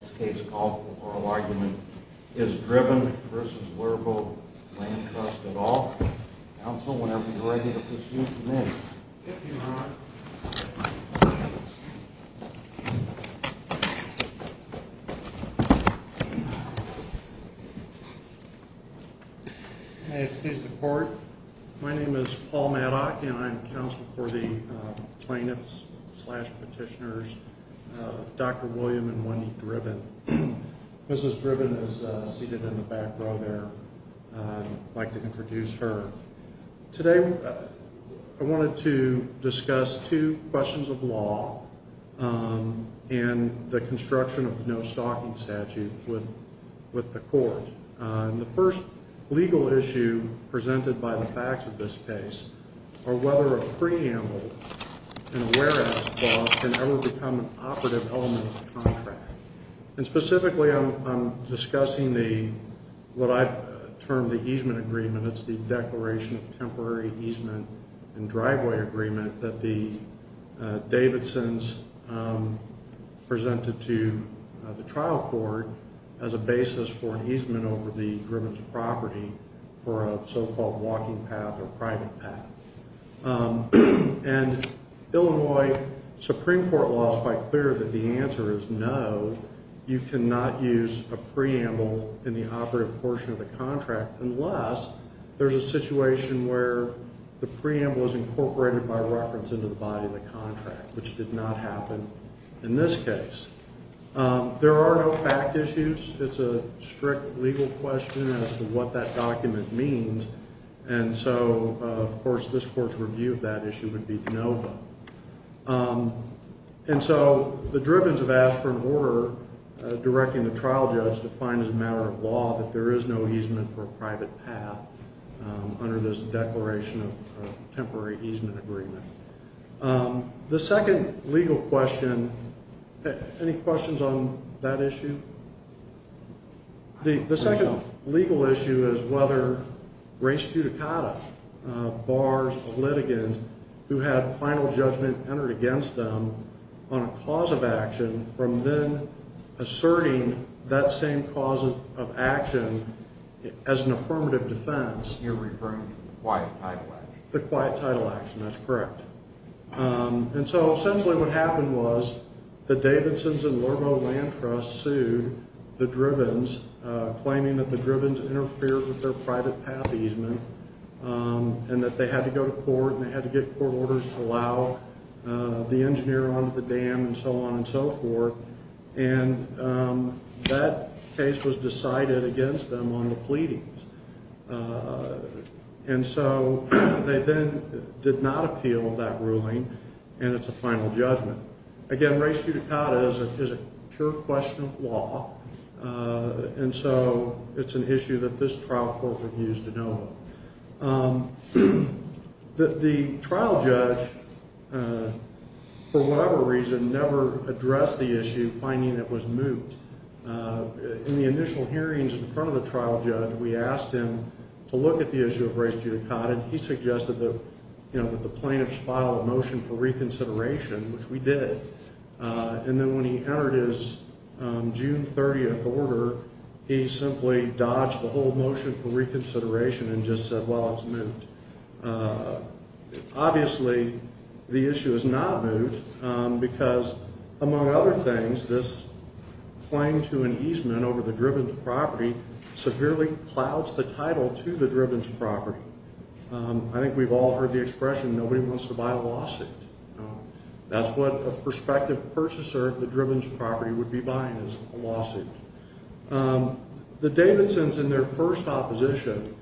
This case is called for oral argument. Is Dribben v. Lurbo Land Trust at all? Counsel, whenever you're ready to proceed, come in. Thank you, Your Honor. May it please the Court. My name is Paul Maddock, and I'm counsel for the plaintiffs slash petitioners, Dr. William and Wendy Dribben. Mrs. Dribben is seated in the back row there. I'd like to introduce her. Today I wanted to discuss two questions of law and the construction of the no-stalking statute with the Court. The first legal issue presented by the facts of this case are whether a preamble and a whereas clause can ever become an operative element of the contract. Specifically, I'm discussing what I've termed the easement agreement. It's the declaration of temporary easement and driveway agreement that the Davidsons presented to the trial court as a basis for an easement over the Dribben's property for a so-called walking path or private path. Illinois Supreme Court law is quite clear that the answer is no. You cannot use a preamble in the operative portion of the contract unless there's a situation where the preamble is incorporated by reference into the body of the contract, which did not happen in this case. There are no fact issues. It's a strict legal question as to what that document means. Of course, this Court's review of that issue would be no vote. The Dribben's have asked for an order directing the trial judge to find as a matter of law that there is no easement for a private path under this declaration of temporary easement agreement. The second legal question, any questions on that issue? The second legal issue is whether race judicata bars a litigant who had final judgment entered against them on a cause of action from then asserting that same cause of action as an affirmative defense. You're referring to the quiet title action. The quiet title action, that's correct. Essentially what happened was the Davidson's and Largo Land Trust sued the Dribben's claiming that the Dribben's interfered with their private path easement and that they had to go to court and they had to get court orders to allow the engineer onto the dam and so on and so forth. That case was decided against them on the pleadings and so they then did not appeal that ruling and it's a final judgment. Again, race judicata is a pure question of law and so it's an issue that this trial court would use to know of. The trial judge, for whatever reason, never addressed the issue finding it was moot. In the initial hearings in front of the trial judge, we asked him to look at the issue of race judicata and he suggested that the plaintiffs file a motion for reconsideration, which we did. Then when he entered his June 30th order, he simply dodged the whole motion for reconsideration and just said, well, it's moot. Obviously, the issue is not moot because, among other things, this claim to an easement over the Dribben's property severely clouds the title to the Dribben's property. I think we've all heard the expression, nobody wants to buy a lawsuit. That's what a prospective purchaser of the Dribben's property would be buying is a lawsuit. The Davidsons, in their first opposition,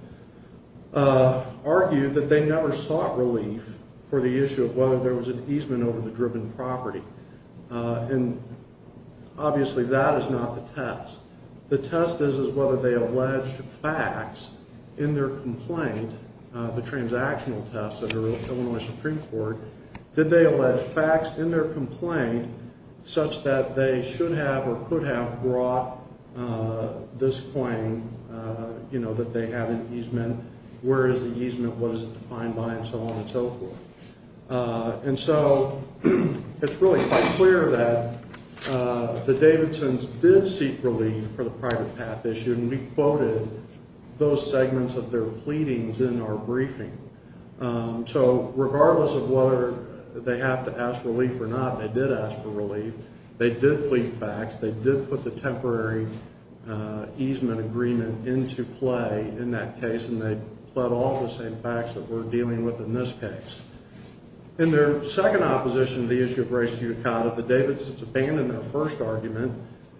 argued that they never sought relief for the issue of whether there was an easement over the Dribben property. Obviously, that is not the test. The test is whether they allege facts in their complaint, the transactional test of the Illinois Supreme Court. Did they allege facts in their complaint such that they should have or could have brought this claim that they had an easement? Where is the easement? What is it defined by? And so on and so forth. And so it's really quite clear that the Davidsons did seek relief for the private path issue, and we quoted those segments of their pleadings in our briefing. So regardless of whether they have to ask relief or not, they did ask for relief. They did plead facts. In their second opposition to the issue of race judicata, the Davidsons abandoned their first argument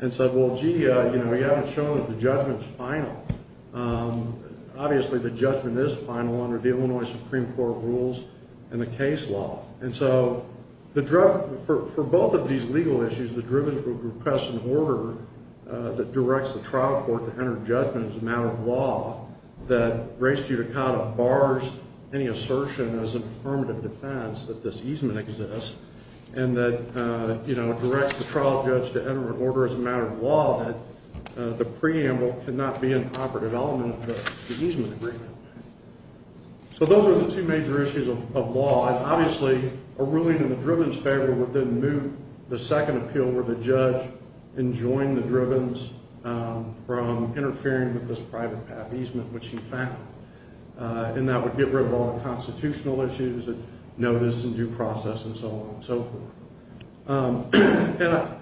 and said, well, gee, we haven't shown that the judgment's final. Obviously, the judgment is final under the Illinois Supreme Court rules and the case law. For both of these legal issues, the Dribbens would request an order that directs the trial court to enter judgment as a matter of law that race judicata bars any assertion as an affirmative defense that this easement exists and that directs the trial judge to enter an order as a matter of law that the preamble cannot be an operative element of the easement agreement. So those are the two major issues of law. And obviously, a ruling in the Dribbens' favor would then move the second appeal where the judge enjoined the Dribbens from interfering with this private path easement, which, in fact, and that would get rid of all the constitutional issues of notice and due process and so on and so forth. And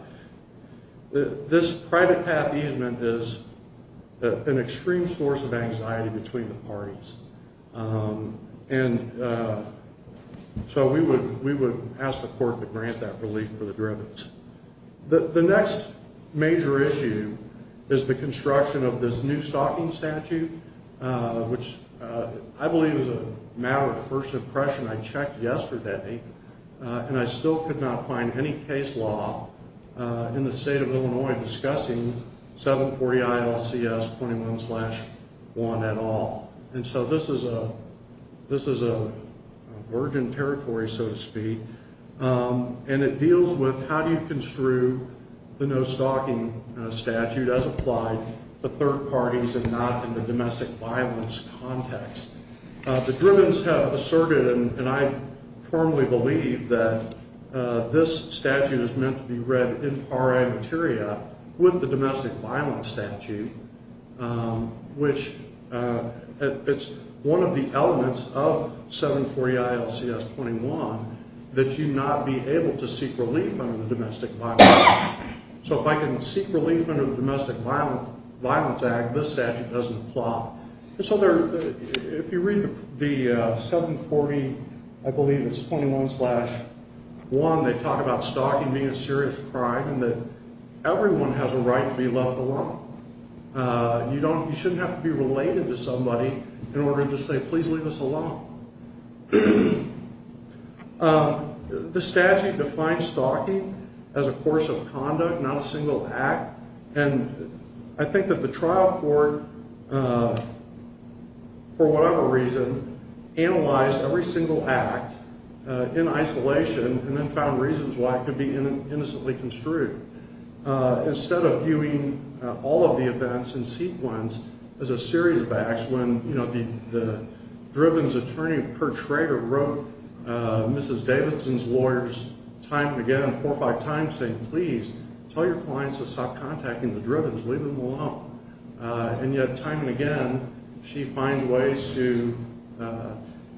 this private path easement is an extreme source of anxiety between the parties. And so we would ask the court to grant that relief for the Dribbens. The next major issue is the construction of this new stocking statute, which I believe is a matter of first impression. I checked yesterday, and I still could not find any case law in the state of Illinois discussing 740 ILCS 21-1 at all. And so this is a virgin territory, so to speak. And it deals with how do you construe the no stocking statute as applied to third parties and not in the domestic violence context. The Dribbens have asserted, and I firmly believe, that this statute is meant to be read in pari materia with the domestic violence statute, which it's one of the elements of 740 ILCS 21 that you not be able to seek relief under the domestic violence act. So if I can seek relief under the domestic violence act, this statute doesn't apply. So if you read the 740, I believe it's 21-1, they talk about stocking being a serious crime and that everyone has a right to be left alone. You shouldn't have to be related to somebody in order to say, please leave us alone. The statute defines stocking as a course of conduct, not a single act, and I think that the trial court, for whatever reason, analyzed every single act in isolation and then found reasons why it could be innocently construed. Instead of viewing all of the events in sequence as a series of acts, when the Dribbens attorney, Per Trager, wrote Mrs. Davidson's lawyers time and again, four or five times, saying, please, tell your clients to stop contacting the Dribbens, leave them alone. And yet, time and again, she finds ways to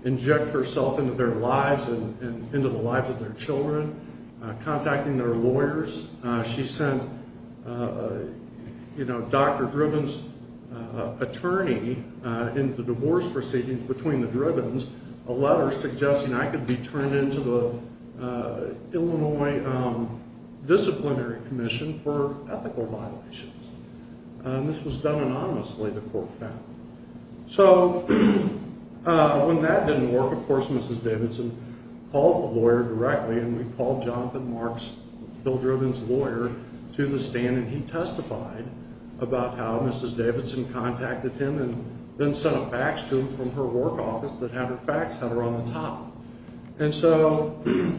inject herself into their lives and into the lives of their children, contacting their lawyers. She sent Dr. Dribbens' attorney, in the divorce proceedings between the Dribbens, a letter suggesting I could be turned into the Illinois Disciplinary Commission for ethical violations. This was done anonymously, the court found. So when that didn't work, of course, Mrs. Davidson called the lawyer directly, and we called Jonathan Marks, Bill Dribbens' lawyer, to the stand, and he testified about how Mrs. Davidson contacted him and then sent a fax to him from her work office that had her fax header on the top. And so, you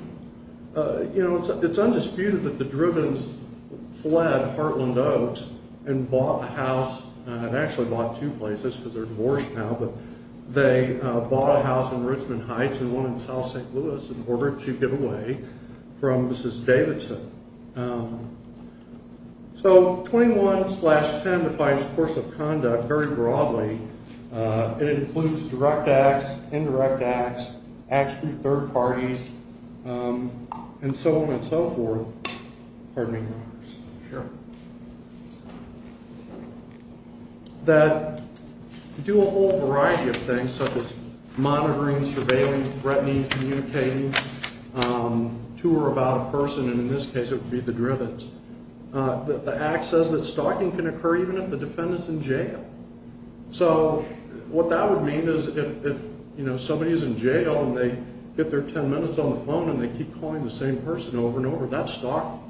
know, it's undisputed that the Dribbens fled Heartland Oaks and bought a house, and actually bought two places because they're divorced now, but they bought a house in Richmond Heights and one in South St. Louis in order to get away from Mrs. Davidson. So 21-10 defines the course of conduct very broadly. It includes direct acts, indirect acts, acts through third parties, and so on and so forth. Pardon me, Marcus. Sure. That do a whole variety of things, such as monitoring, surveilling, threatening, communicating to or about a person, and in this case it would be the Dribbens. The act says that stalking can occur even if the defendant's in jail. So what that would mean is if, you know, somebody's in jail and they get their 10 minutes on the phone and they keep calling the same person over and over, that's stalking.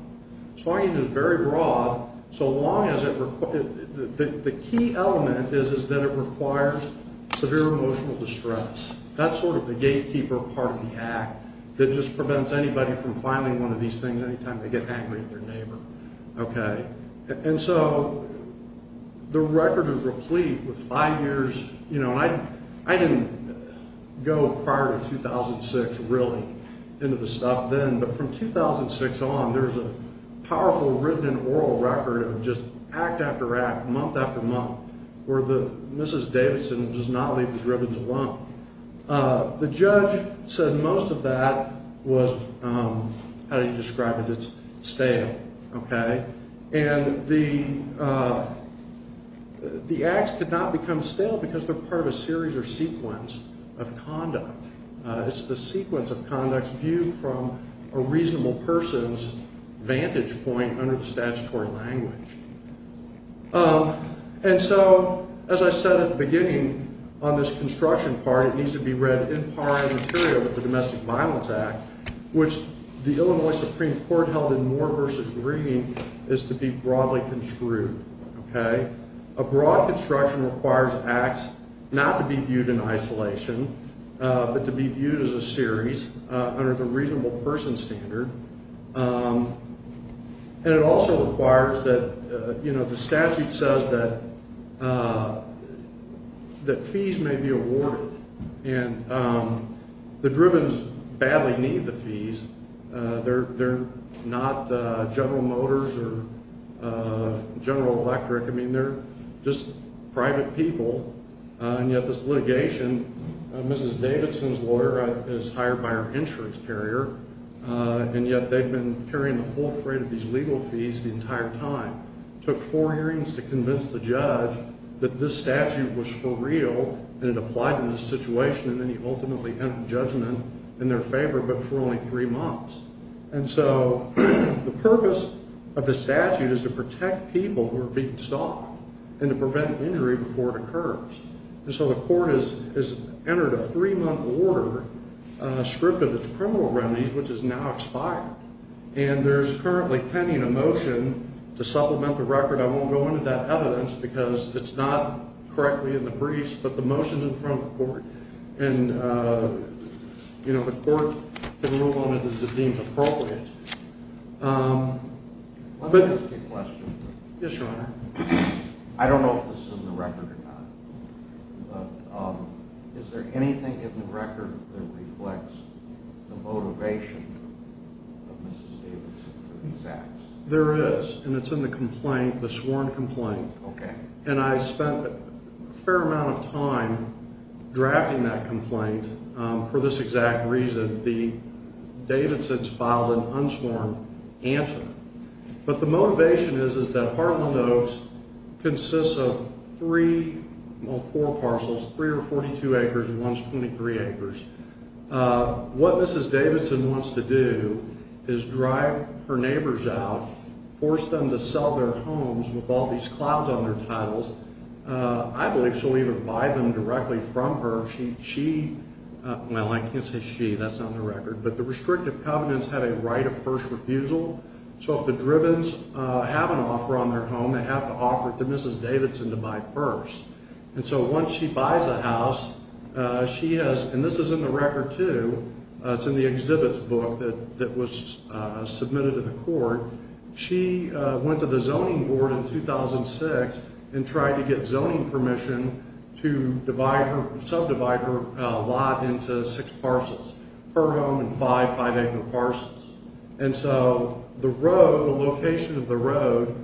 Stalking is very broad. The key element is that it requires severe emotional distress. That's sort of the gatekeeper part of the act that just prevents anybody from filing one of these things any time they get angry at their neighbor, okay? And so the record is replete with five years. You know, I didn't go prior to 2006 really into the stuff then, but from 2006 on there's a powerful written and oral record of just act after act, month after month, where Mrs. Davidson does not leave the Dribbens alone. The judge said most of that was, how do you describe it? It's stale, okay? And the acts could not become stale because they're part of a series or sequence of conduct. It's the sequence of conducts viewed from a reasonable person's vantage point under the statutory language. And so as I said at the beginning on this construction part, it needs to be read in par and material with the Domestic Violence Act, which the Illinois Supreme Court held in Moore v. Green is to be broadly construed, okay? A broad construction requires acts not to be viewed in isolation, but to be viewed as a series under the reasonable person standard. And it also requires that, you know, the statute says that fees may be awarded, and the Dribbens badly need the fees. They're not General Motors or General Electric. I mean, they're just private people. And yet this litigation, Mrs. Davidson's lawyer is hired by her insurance carrier, and yet they've been carrying the full freight of these legal fees the entire time. It took four hearings to convince the judge that this statute was for real and it applied in this situation, and then he ultimately entered judgment in their favor, but for only three months. And so the purpose of the statute is to protect people who are being stalked and to prevent injury before it occurs. And so the court has entered a three-month order, a script of its criminal remedies, which has now expired. And there's currently pending a motion to supplement the record. I won't go into that evidence because it's not correctly in the briefs, but the motion's in front of the court. And, you know, the court can move on as it deems appropriate. Let me ask you a question. Yes, Your Honor. I don't know if this is in the record or not, but is there anything in the record that reflects the motivation of Mrs. Davidson for these acts? There is, and it's in the complaint, the sworn complaint. Okay. And I spent a fair amount of time drafting that complaint for this exact reason. The Davidsons filed an unsworn answer. But the motivation is that Heartland Oaks consists of three or four parcels, three or 42 acres and one's 23 acres. What Mrs. Davidson wants to do is drive her neighbors out, force them to sell their homes with all these clouds on their titles. I believe she'll even buy them directly from her. She, well, I can't say she. That's not in the record. But the restrictive covenants have a right of first refusal. So if the Drivens have an offer on their home, they have to offer it to Mrs. Davidson to buy first. And so once she buys a house, she has, and this is in the record too, it's in the exhibits book that was submitted to the court. She went to the zoning board in 2006 and tried to get zoning permission to subdivide her lot into six parcels, her home and five five-acre parcels. And so the road, the location of the road,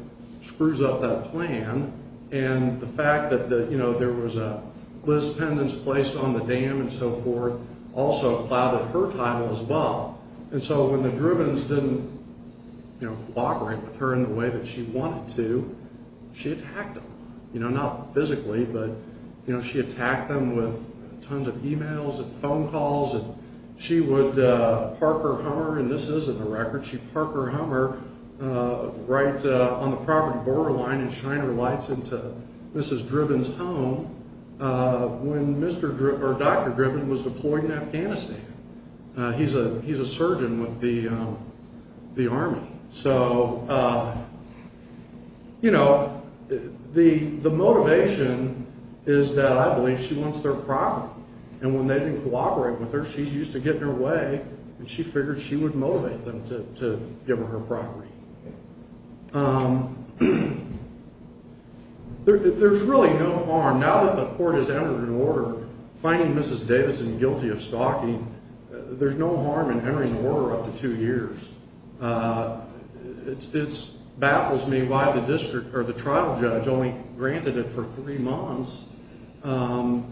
screws up that plan. And the fact that there was a Liz Pendens Place on the dam and so forth also clouded her title as well. And so when the Drivens didn't cooperate with her in the way that she wanted to, she attacked them. Not physically, but she attacked them with tons of emails and phone calls. And she would park her Hummer, and this is in the record, she'd park her Hummer right on the property borderline and shine her lights into Mrs. Driven's home when Dr. Driven was deployed in Afghanistan. He's a surgeon with the Army. So, you know, the motivation is that I believe she wants their property. And when they didn't cooperate with her, she's used to getting her way, and she figured she would motivate them to give her her property. There's really no harm. Now that the court has entered an order finding Mrs. Davidson guilty of stalking, there's no harm in entering the order up to two years. It baffles me why the trial judge only granted it for three months. I'm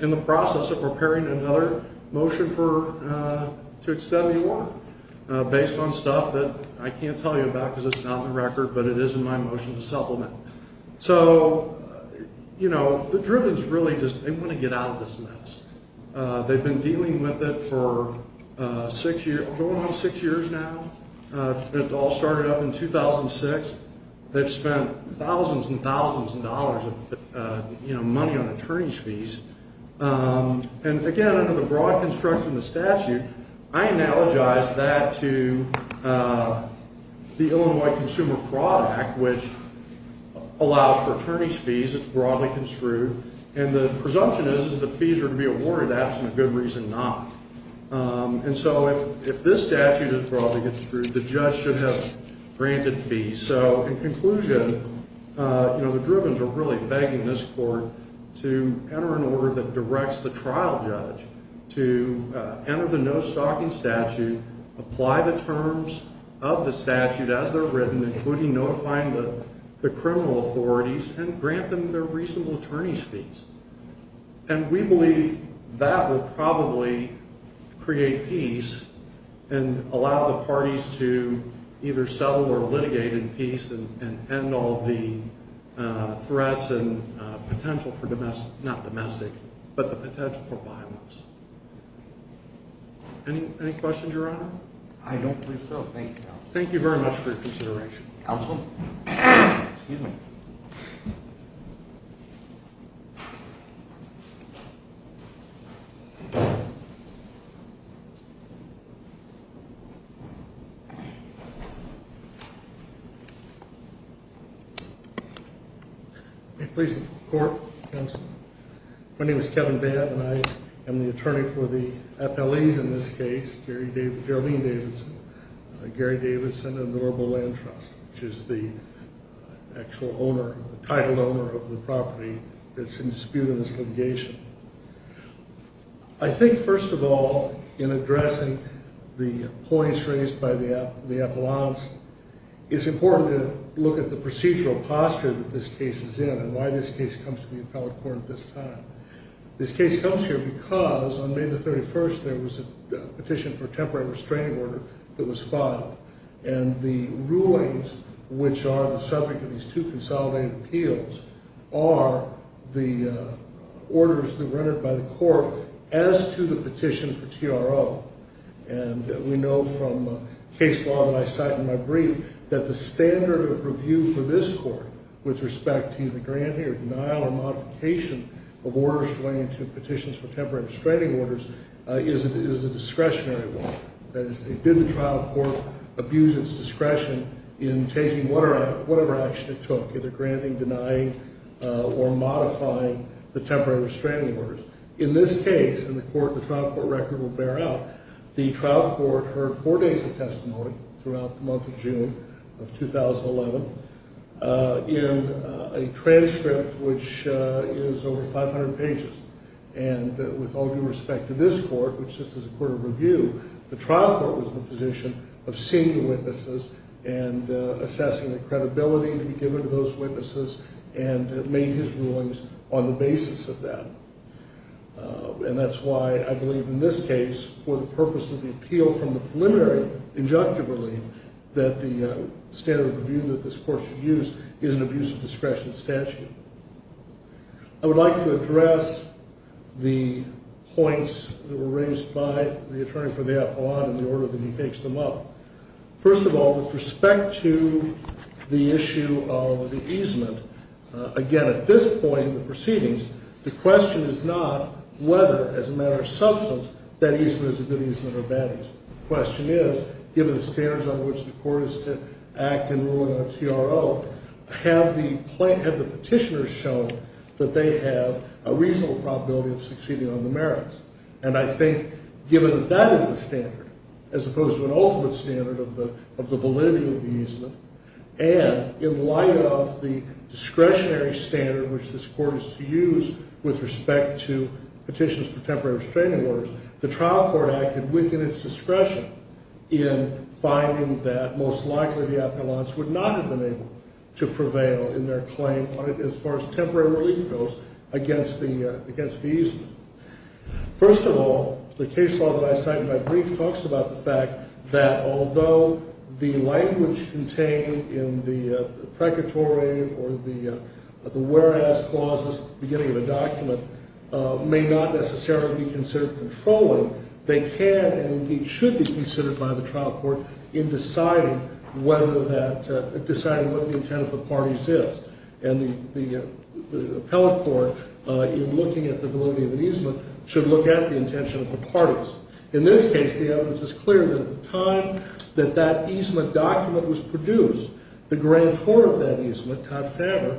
in the process of preparing another motion to extend the order based on stuff that I can't tell you about because it's not in the record, but it is in my motion to supplement. So, you know, the Drivens really just want to get out of this mess. They've been dealing with it for going on six years now. It all started up in 2006. They've spent thousands and thousands of dollars of money on attorney's fees. And, again, under the broad construction of the statute, I analogize that to the Illinois Consumer Fraud Act, which allows for attorney's fees. It's broadly construed. And the presumption is that the fees are to be awarded. That's a good reason not. And so if this statute is broadly construed, the judge should have granted fees. So, in conclusion, you know, the Drivens are really begging this court to enter an order that directs the trial judge to enter the no stalking statute, apply the terms of the statute as they're written, including notifying the criminal authorities and grant them their reasonable attorney's fees. And we believe that will probably create peace and allow the parties to either settle or litigate in peace and end all the threats and potential for domestic, not domestic, but the potential for violence. Any questions, Your Honor? I don't think so. Thank you. Thank you very much for your consideration. Counsel? Excuse me. May it please the court, counsel. My name is Kevin Babb, and I am the attorney for the FLEs in this case, Geraldine Davidson, Gary Davidson, and the Norval Land Trust, which is the actual owner, the title owner of the property that's in dispute in this litigation. I think, first of all, in addressing the points raised by the appellants, it's important to look at the procedural posture that this case is in and why this case comes to the appellate court at this time. This case comes here because on May the 31st, there was a petition for a temporary restraining order that was filed. And the rulings, which are the subject of these two consolidated appeals, are the orders that were entered by the court as to the petition for TRO. And we know from case law that I cite in my brief that the standard of review for this court with respect to the granting or denial or modification of orders relating to petitions for temporary restraining orders is a discretionary one. That is, did the trial court abuse its discretion in taking whatever action it took, either granting, denying, or modifying the temporary restraining orders? In this case, and the trial court record will bear out, the trial court heard four days of testimony throughout the month of June of 2011. In a transcript which is over 500 pages. And with all due respect to this court, which sits as a court of review, the trial court was in a position of seeing the witnesses and assessing the credibility to be given to those witnesses and made his rulings on the basis of that. And that's why I believe in this case, for the purpose of the appeal from the preliminary injunctive relief, that the standard of review that this court should use is an abuse of discretion statute. I would like to address the points that were raised by the attorney for the appellant in the order that he takes them up. First of all, with respect to the issue of the easement, again, at this point in the proceedings, the question is not whether, as a matter of substance, that easement is a good easement or a bad easement. The question is, given the standards on which the court is to act in ruling on TRO, have the petitioners shown that they have a reasonable probability of succeeding on the merits? And I think, given that that is the standard, as opposed to an ultimate standard of the validity of the easement, and in light of the discretionary standard which this court is to use with respect to petitions for temporary restraining orders, the trial court acted within its discretion in finding that, most likely, the appellants would not have been able to prevail in their claim, as far as temporary relief goes, against the easement. First of all, the case law that I cite in my brief talks about the fact that, although the language contained in the precatory or the whereas clauses at the beginning of a document may not necessarily be considered controlling, they can and should be considered by the trial court in deciding what the intent of the parties is. And the appellate court, in looking at the validity of an easement, should look at the intention of the parties. In this case, the evidence is clear that at the time that that easement document was produced, the grantor of that easement, Todd Faber,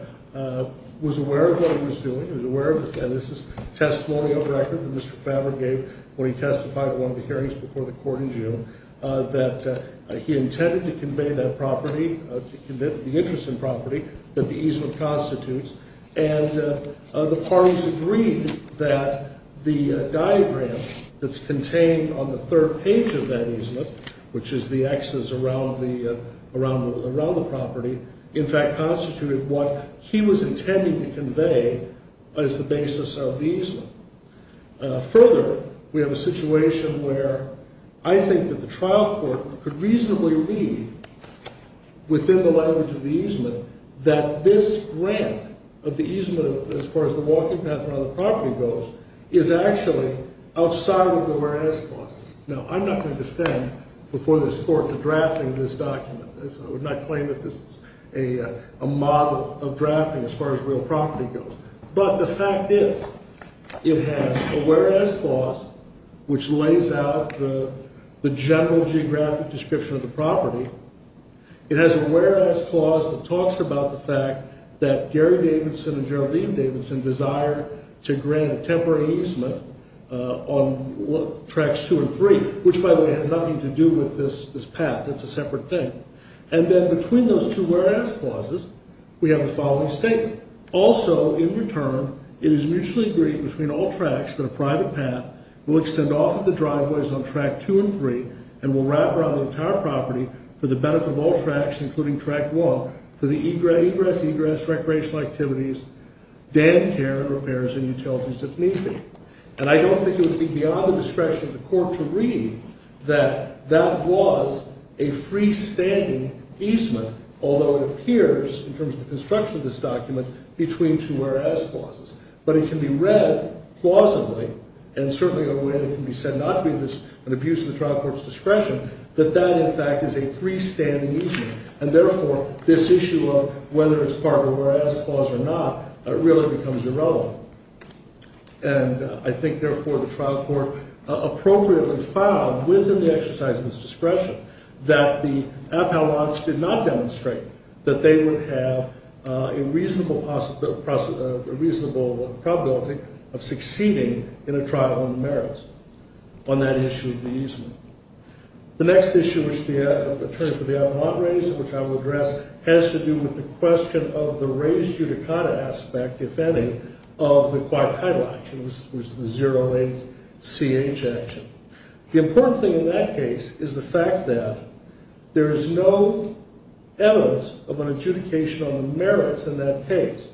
was aware of what he was doing, he was aware of it, and this is a testimonial record that Mr. Faber gave when he testified at one of the hearings before the court in June, that he intended to convey that property, the interest in property that the easement constitutes, and the parties agreed that the diagram that's contained on the third page of that easement, which is the Xs around the property, in fact constituted what he was intending to convey as the basis of the easement. Further, we have a situation where I think that the trial court could reasonably read, within the language of the easement, that this grant of the easement, as far as the walking path around the property goes, is actually outside of the whereas clauses. Now, I'm not going to defend before this court the drafting of this document. I would not claim that this is a model of drafting as far as real property goes. But the fact is, it has a whereas clause, which lays out the general geographic description of the property. It has a whereas clause that talks about the fact that Gary Davidson and Geraldine Davidson desired to grant a temporary easement on Tracts 2 and 3, which, by the way, has nothing to do with this path. It's a separate thing. And then between those two whereas clauses, we have the following statement. Also, in return, it is mutually agreed between all tracts that a private path will extend off of the driveways on Tract 2 and 3 and will wrap around the entire property for the benefit of all tracts, including Tract 1, for the egress, egress, recreational activities, dam care and repairs and utilities, if need be. And I don't think it would be beyond the discretion of the court to read that that was a freestanding easement, although it appears, in terms of the construction of this document, between two whereas clauses. But it can be read plausibly, and certainly in a way that can be said not to be an abuse of the trial court's discretion, that that, in fact, is a freestanding easement. And therefore, this issue of whether it's part of a whereas clause or not really becomes irrelevant. And I think, therefore, the trial court appropriately found within the exercise of its discretion that the appellants did not demonstrate that they would have a reasonable possibility of succeeding in a trial on the merits on that issue of the easement. The next issue which the attorney for the appellant raised, which I will address, has to do with the question of the raised judicata aspect, if any, of the quiet title action, which is the 08-CH action. The important thing in that case is the fact that there is no evidence of an adjudication on the merits in that case.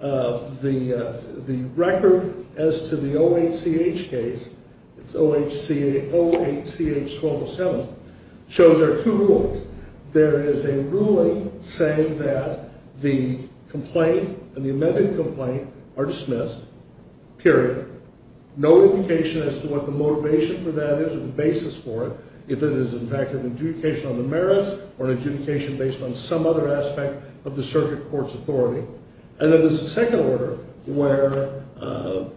The record as to the 08-CH case, it's 08-CH-1207, shows there are two rules. There is a ruling saying that the complaint and the amended complaint are dismissed, period. No indication as to what the motivation for that is or the basis for it, if it is, in fact, an adjudication on the merits or an adjudication based on some other aspect of the circuit court's authority. And then there's a second order where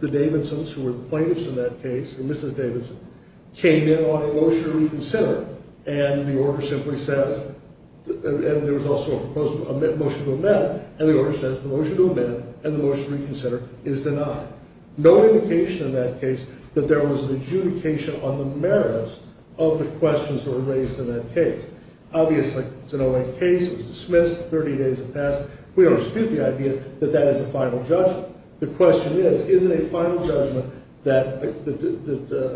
the Davidsons, who were the plaintiffs in that case, or Mrs. Davidson, came in on a motion to reconsider, and the order simply says, and there was also a motion to amend, and the order says the motion to amend and the motion to reconsider is denied. No indication in that case that there was an adjudication on the merits of the questions that were raised in that case. Obviously, it's an 08 case, it was dismissed, 30 days have passed. We don't dispute the idea that that is a final judgment. The question is, is it a final judgment that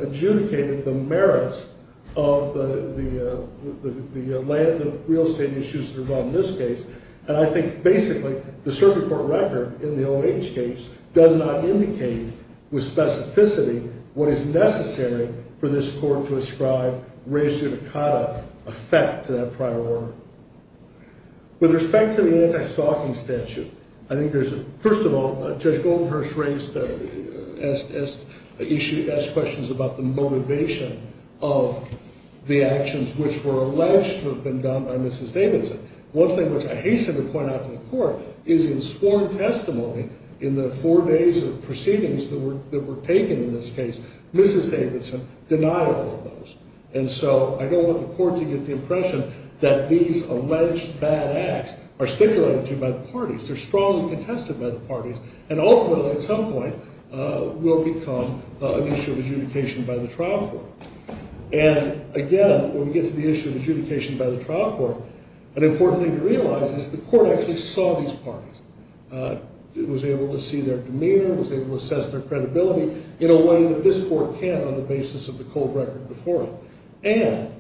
adjudicated the merits of the real estate issues involved in this case? And I think, basically, the circuit court record in the 08 case does not indicate with specificity what is necessary for this court to ascribe res judicata effect to that prior order. With respect to the anti-stalking statute, I think there's, first of all, Judge Goldenhurst raised, asked questions about the motivation of the actions which were alleged to have been done by Mrs. Davidson. One thing which I hasten to point out to the court is in sworn testimony, in the four days of proceedings that were taken in this case, Mrs. Davidson denied all of those. And so, I don't want the court to get the impression that these alleged bad acts are stipulated to by the parties. They're strongly contested by the parties and ultimately, at some point, will become an issue of adjudication by the trial court. And again, when we get to the issue of adjudication by the trial court, an important thing to realize is the court actually saw these parties. It was able to see their demeanor, it was able to assess their credibility in a way that this court can on the basis of the cold record before it. And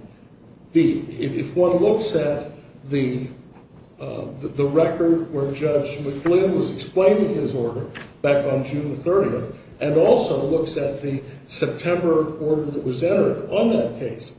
if one looks at the record where Judge McGlynn was explaining his order back on June 30th and also looks at the September order that was entered on that case,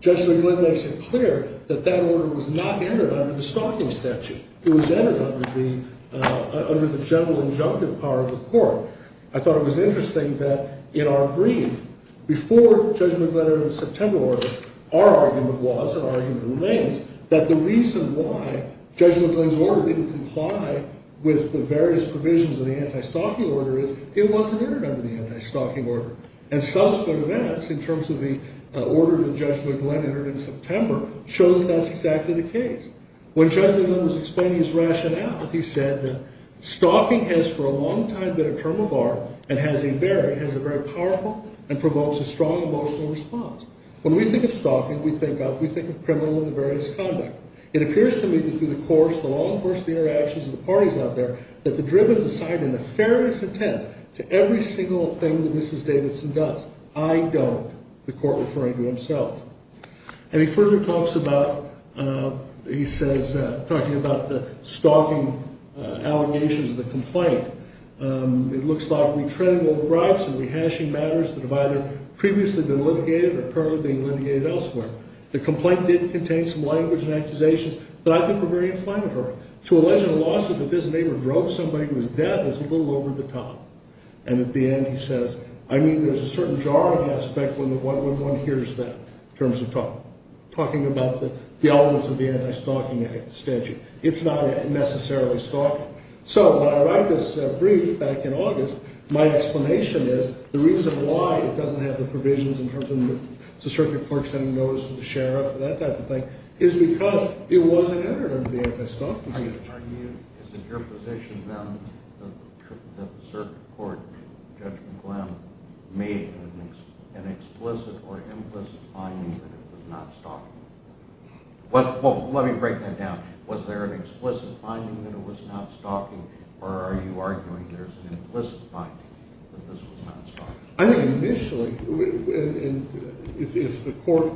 Judge McGlynn makes it clear that that order was not entered under the stalking statute. It was entered under the general injunctive power of the court. I thought it was interesting that in our brief before Judge McGlynn entered the September order, our argument was and our argument remains that the reason why Judge McGlynn's order didn't comply with the various provisions of the anti-stalking order is it wasn't entered under the anti-stalking order. And subsequent events in terms of the order that Judge McGlynn entered in September show that that's exactly the case. When Judge McGlynn was explaining his rationale, he said that stalking has for a long time been a term of art and has a very powerful and provokes a strong emotional response. When we think of stalking, we think of criminal and various conduct. It appears to me that through the course, the long course of interactions of the parties out there, that the driven society nefarious intent to every single thing that Mrs. Davidson does, I don't, the court referring to himself. And he further talks about, he says, talking about the stalking allegations of the complaint. It looks like we tread in both groups and we're hashing matters that have either previously been litigated or currently being litigated elsewhere. The complaint did contain some language and accusations that I think were very inflammatory. To allege in a lawsuit that this neighbor drove somebody to his death is a little over the top. And at the end, he says, I mean, there's a certain jargon aspect when one hears that in terms of talking about the elements of the anti-stalking statute. It's not necessarily stalking. So when I write this brief back in August, my explanation is the reason why it doesn't have the provisions in terms of the circuit clerk sending notice to the sheriff, that type of thing, Is it your position, then, that the circuit court, Judge McGlenn, made an explicit or implicit finding that it was not stalking? Well, let me break that down. Was there an explicit finding that it was not stalking? Or are you arguing there's an implicit finding that this was not stalking? I think initially, if the court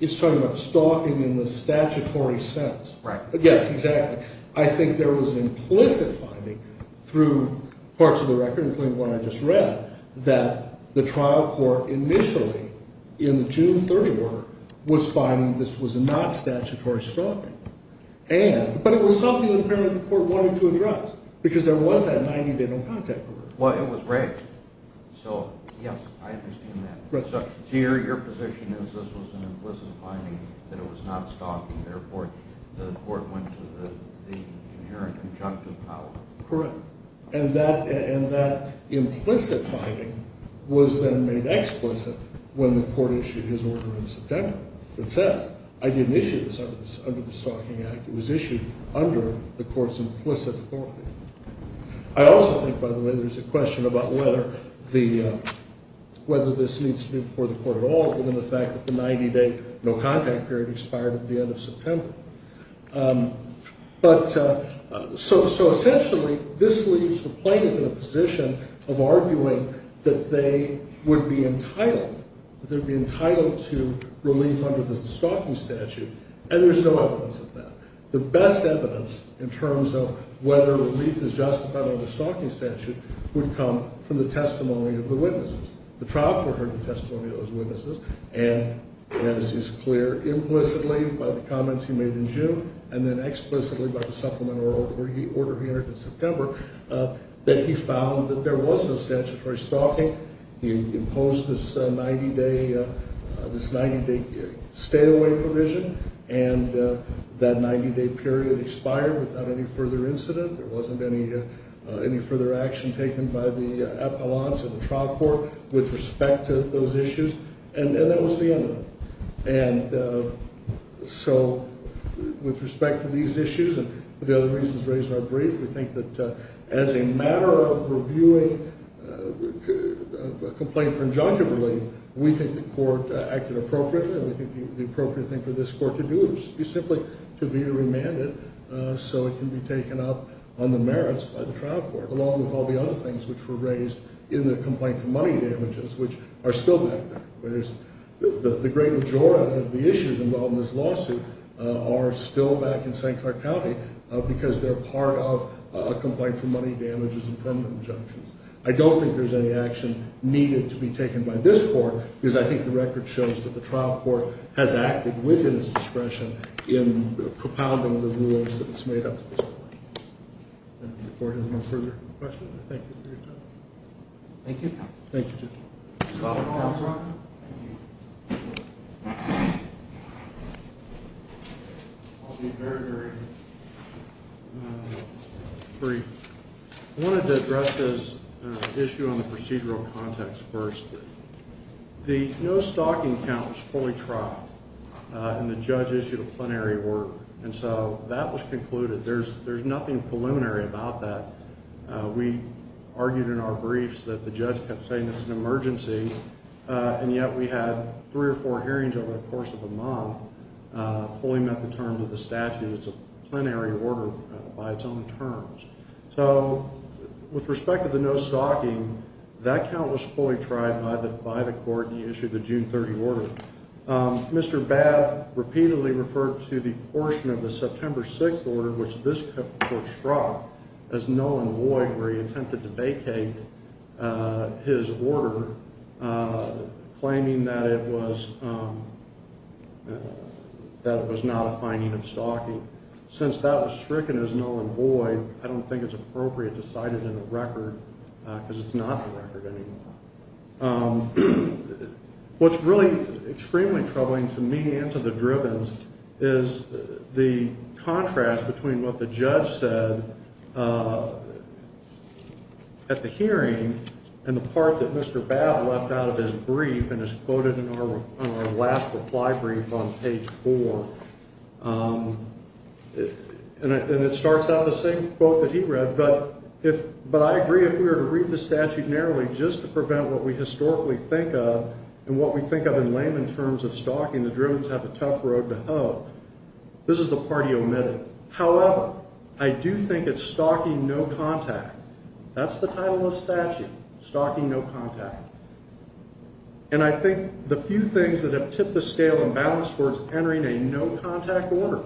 is talking about stalking in the statutory sense, Yes, exactly. I think there was an implicit finding through parts of the record, including the one I just read, that the trial court initially, in the June 30 order, was finding this was not statutory stalking. But it was something that apparently the court wanted to address, because there was that 90-day no contact period. Well, it was raised. So, yes, I understand that. So your position is this was an implicit finding that it was not stalking, and therefore the court went to the inherent conjunctive power. Correct. And that implicit finding was then made explicit when the court issued his order in September. It said, I didn't issue this under the Stalking Act. It was issued under the court's implicit authority. I also think, by the way, there's a question about whether this needs to be before the court at all, rather than the fact that the 90-day no contact period expired at the end of September. So essentially, this leaves the plaintiff in a position of arguing that they would be entitled to relief under the stalking statute, and there's no evidence of that. The best evidence in terms of whether relief is justified under the stalking statute would come from the testimony of the witnesses. The trial court heard the testimony of those witnesses, and as is clear, implicitly by the comments he made in June and then explicitly by the supplemental order he entered in September, that he found that there was no statutory stalking. He imposed this 90-day stay-away provision, and that 90-day period expired without any further incident. There wasn't any further action taken by the appellants or the trial court with respect to those issues. And that was the end of it. And so with respect to these issues and the other reasons raised in our brief, we think that as a matter of reviewing a complaint for injunctive relief, we think the court acted appropriately, and we think the appropriate thing for this court to do is simply to be remanded so it can be taken up on the merits by the trial court, along with all the other things which were raised in the complaint for money damages, which are still back there. The great majority of the issues involved in this lawsuit are still back in St. Clark County because they're part of a complaint for money damages and permanent injunctions. I don't think there's any action needed to be taken by this court, because I think the record shows that the trial court has acted within its discretion in propounding the rules that it's made up to this point. If the court has no further questions, I thank you for your time. Thank you. Thank you. Dr. Armstrong? I'll be very, very brief. I wanted to address this issue on the procedural context first. The no-stalking count was fully trialed, and the judge issued a plenary work, and so that was concluded. There's nothing preliminary about that. We argued in our briefs that the judge kept saying it's an emergency, and yet we had three or four hearings over the course of a month, fully met the terms of the statute. It's a plenary order by its own terms. So with respect to the no-stalking, that count was fully tried by the court, and he issued the June 30 order. Mr. Babb repeatedly referred to the portion of the September 6 order which this court struck as null and void, where he attempted to vacate his order, claiming that it was not a finding of stalking. Since that was stricken as null and void, I don't think it's appropriate to cite it in the record because it's not the record anymore. What's really extremely troubling to me and to the Drivens is the contrast between what the judge said at the hearing and the part that Mr. Babb left out of his brief and is quoted in our last reply brief on page 4. And it starts out the same quote that he read, but I agree if we were to read the statute narrowly just to prevent what we historically think of and what we think of in layman terms of stalking, the Drivens have a tough road to hoe. This is the part he omitted. However, I do think it's stalking no contact. That's the title of the statute, stalking no contact. And I think the few things that have tipped the scale and balance towards entering a no contact order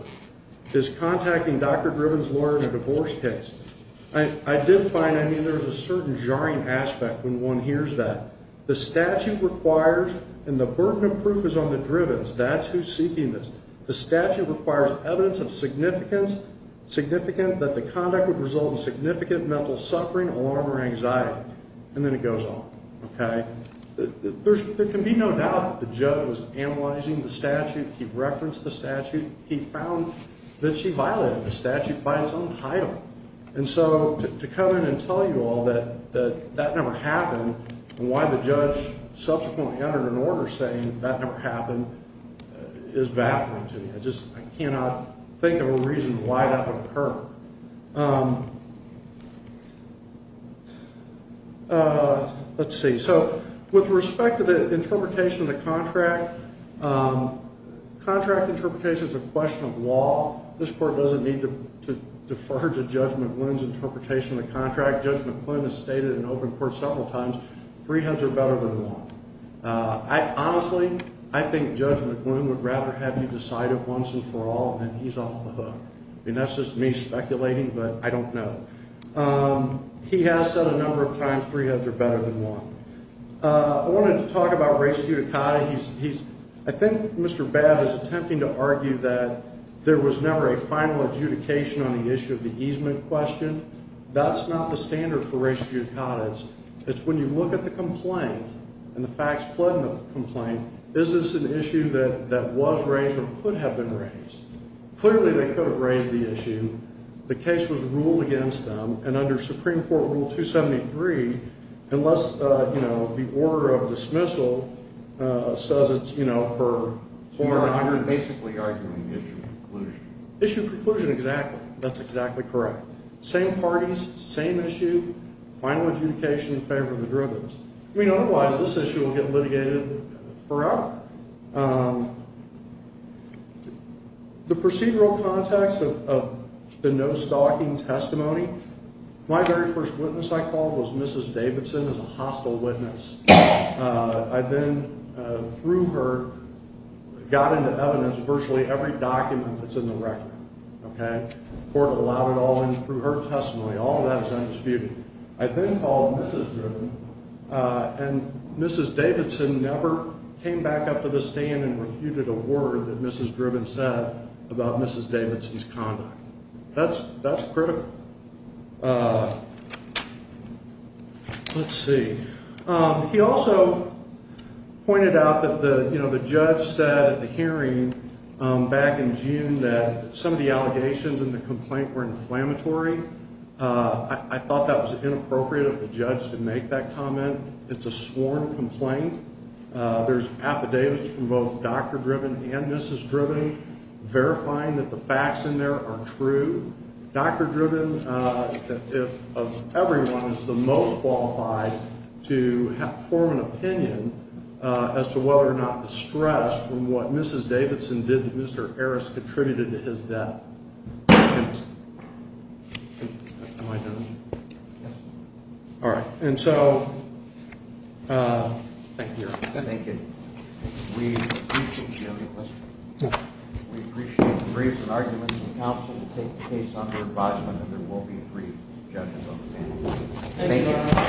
is contacting Dr. Drivens' lawyer in a divorce case. I did find, I mean, there's a certain jarring aspect when one hears that. The statute requires and the burden of proof is on the Drivens. That's who's seeking this. The statute requires evidence of significance, significant that the conduct would result in significant mental suffering, alarm, or anxiety. And then it goes on, okay? There can be no doubt that the judge was analyzing the statute. He referenced the statute. He found that she violated the statute by his own title. And so to come in and tell you all that that never happened and why the judge subsequently entered an order saying that never happened is baffling to me. I just cannot think of a reason why that would occur. Let's see. So with respect to the interpretation of the contract, contract interpretation is a question of law. This court doesn't need to defer to Judge McLuhan's interpretation of the contract. Judge McLuhan has stated in open court several times three heads are better than one. Honestly, I think Judge McLuhan would rather have you decide it once and for all than he's off the hook. I mean, that's just me speculating, but I don't know. He has said a number of times three heads are better than one. I wanted to talk about res judicata. I think Mr. Babb is attempting to argue that there was never a final adjudication on the issue of the easement question. That's not the standard for res judicata. It's when you look at the complaint and the facts flood in the complaint, is this an issue that was raised or could have been raised? Clearly, they could have raised the issue. The case was ruled against them, and under Supreme Court Rule 273, unless the order of dismissal says it's for- So you're basically arguing issue preclusion. Issue preclusion, exactly. That's exactly correct. Same parties, same issue. Final adjudication in favor of the derivatives. I mean, otherwise, this issue will get litigated forever. The procedural context of the no-stalking testimony, my very first witness I called was Mrs. Davidson as a hostile witness. I then, through her, got into evidence virtually every document that's in the record. The court allowed it all in through her testimony. All of that is undisputed. I then called Mrs. Driven, and Mrs. Davidson never came back up to the stand and refuted a word that Mrs. Driven said about Mrs. Davidson's conduct. That's critical. Let's see. He also pointed out that the judge said at the hearing back in June that some of the allegations in the complaint were inflammatory. I thought that was inappropriate of the judge to make that comment. It's a sworn complaint. There's affidavits from both Dr. Driven and Mrs. Driven verifying that the facts in there are true. Dr. Driven, of everyone, is the most qualified to form an opinion as to whether or not the stress from what Mrs. Davidson did to Mr. Harris contributed to his death. Am I done? Yes. All right. And so thank you, Your Honor. Thank you. We appreciate the briefs and arguments of counsel to take the case under advisement that there will be three judges on the panel. Thank you.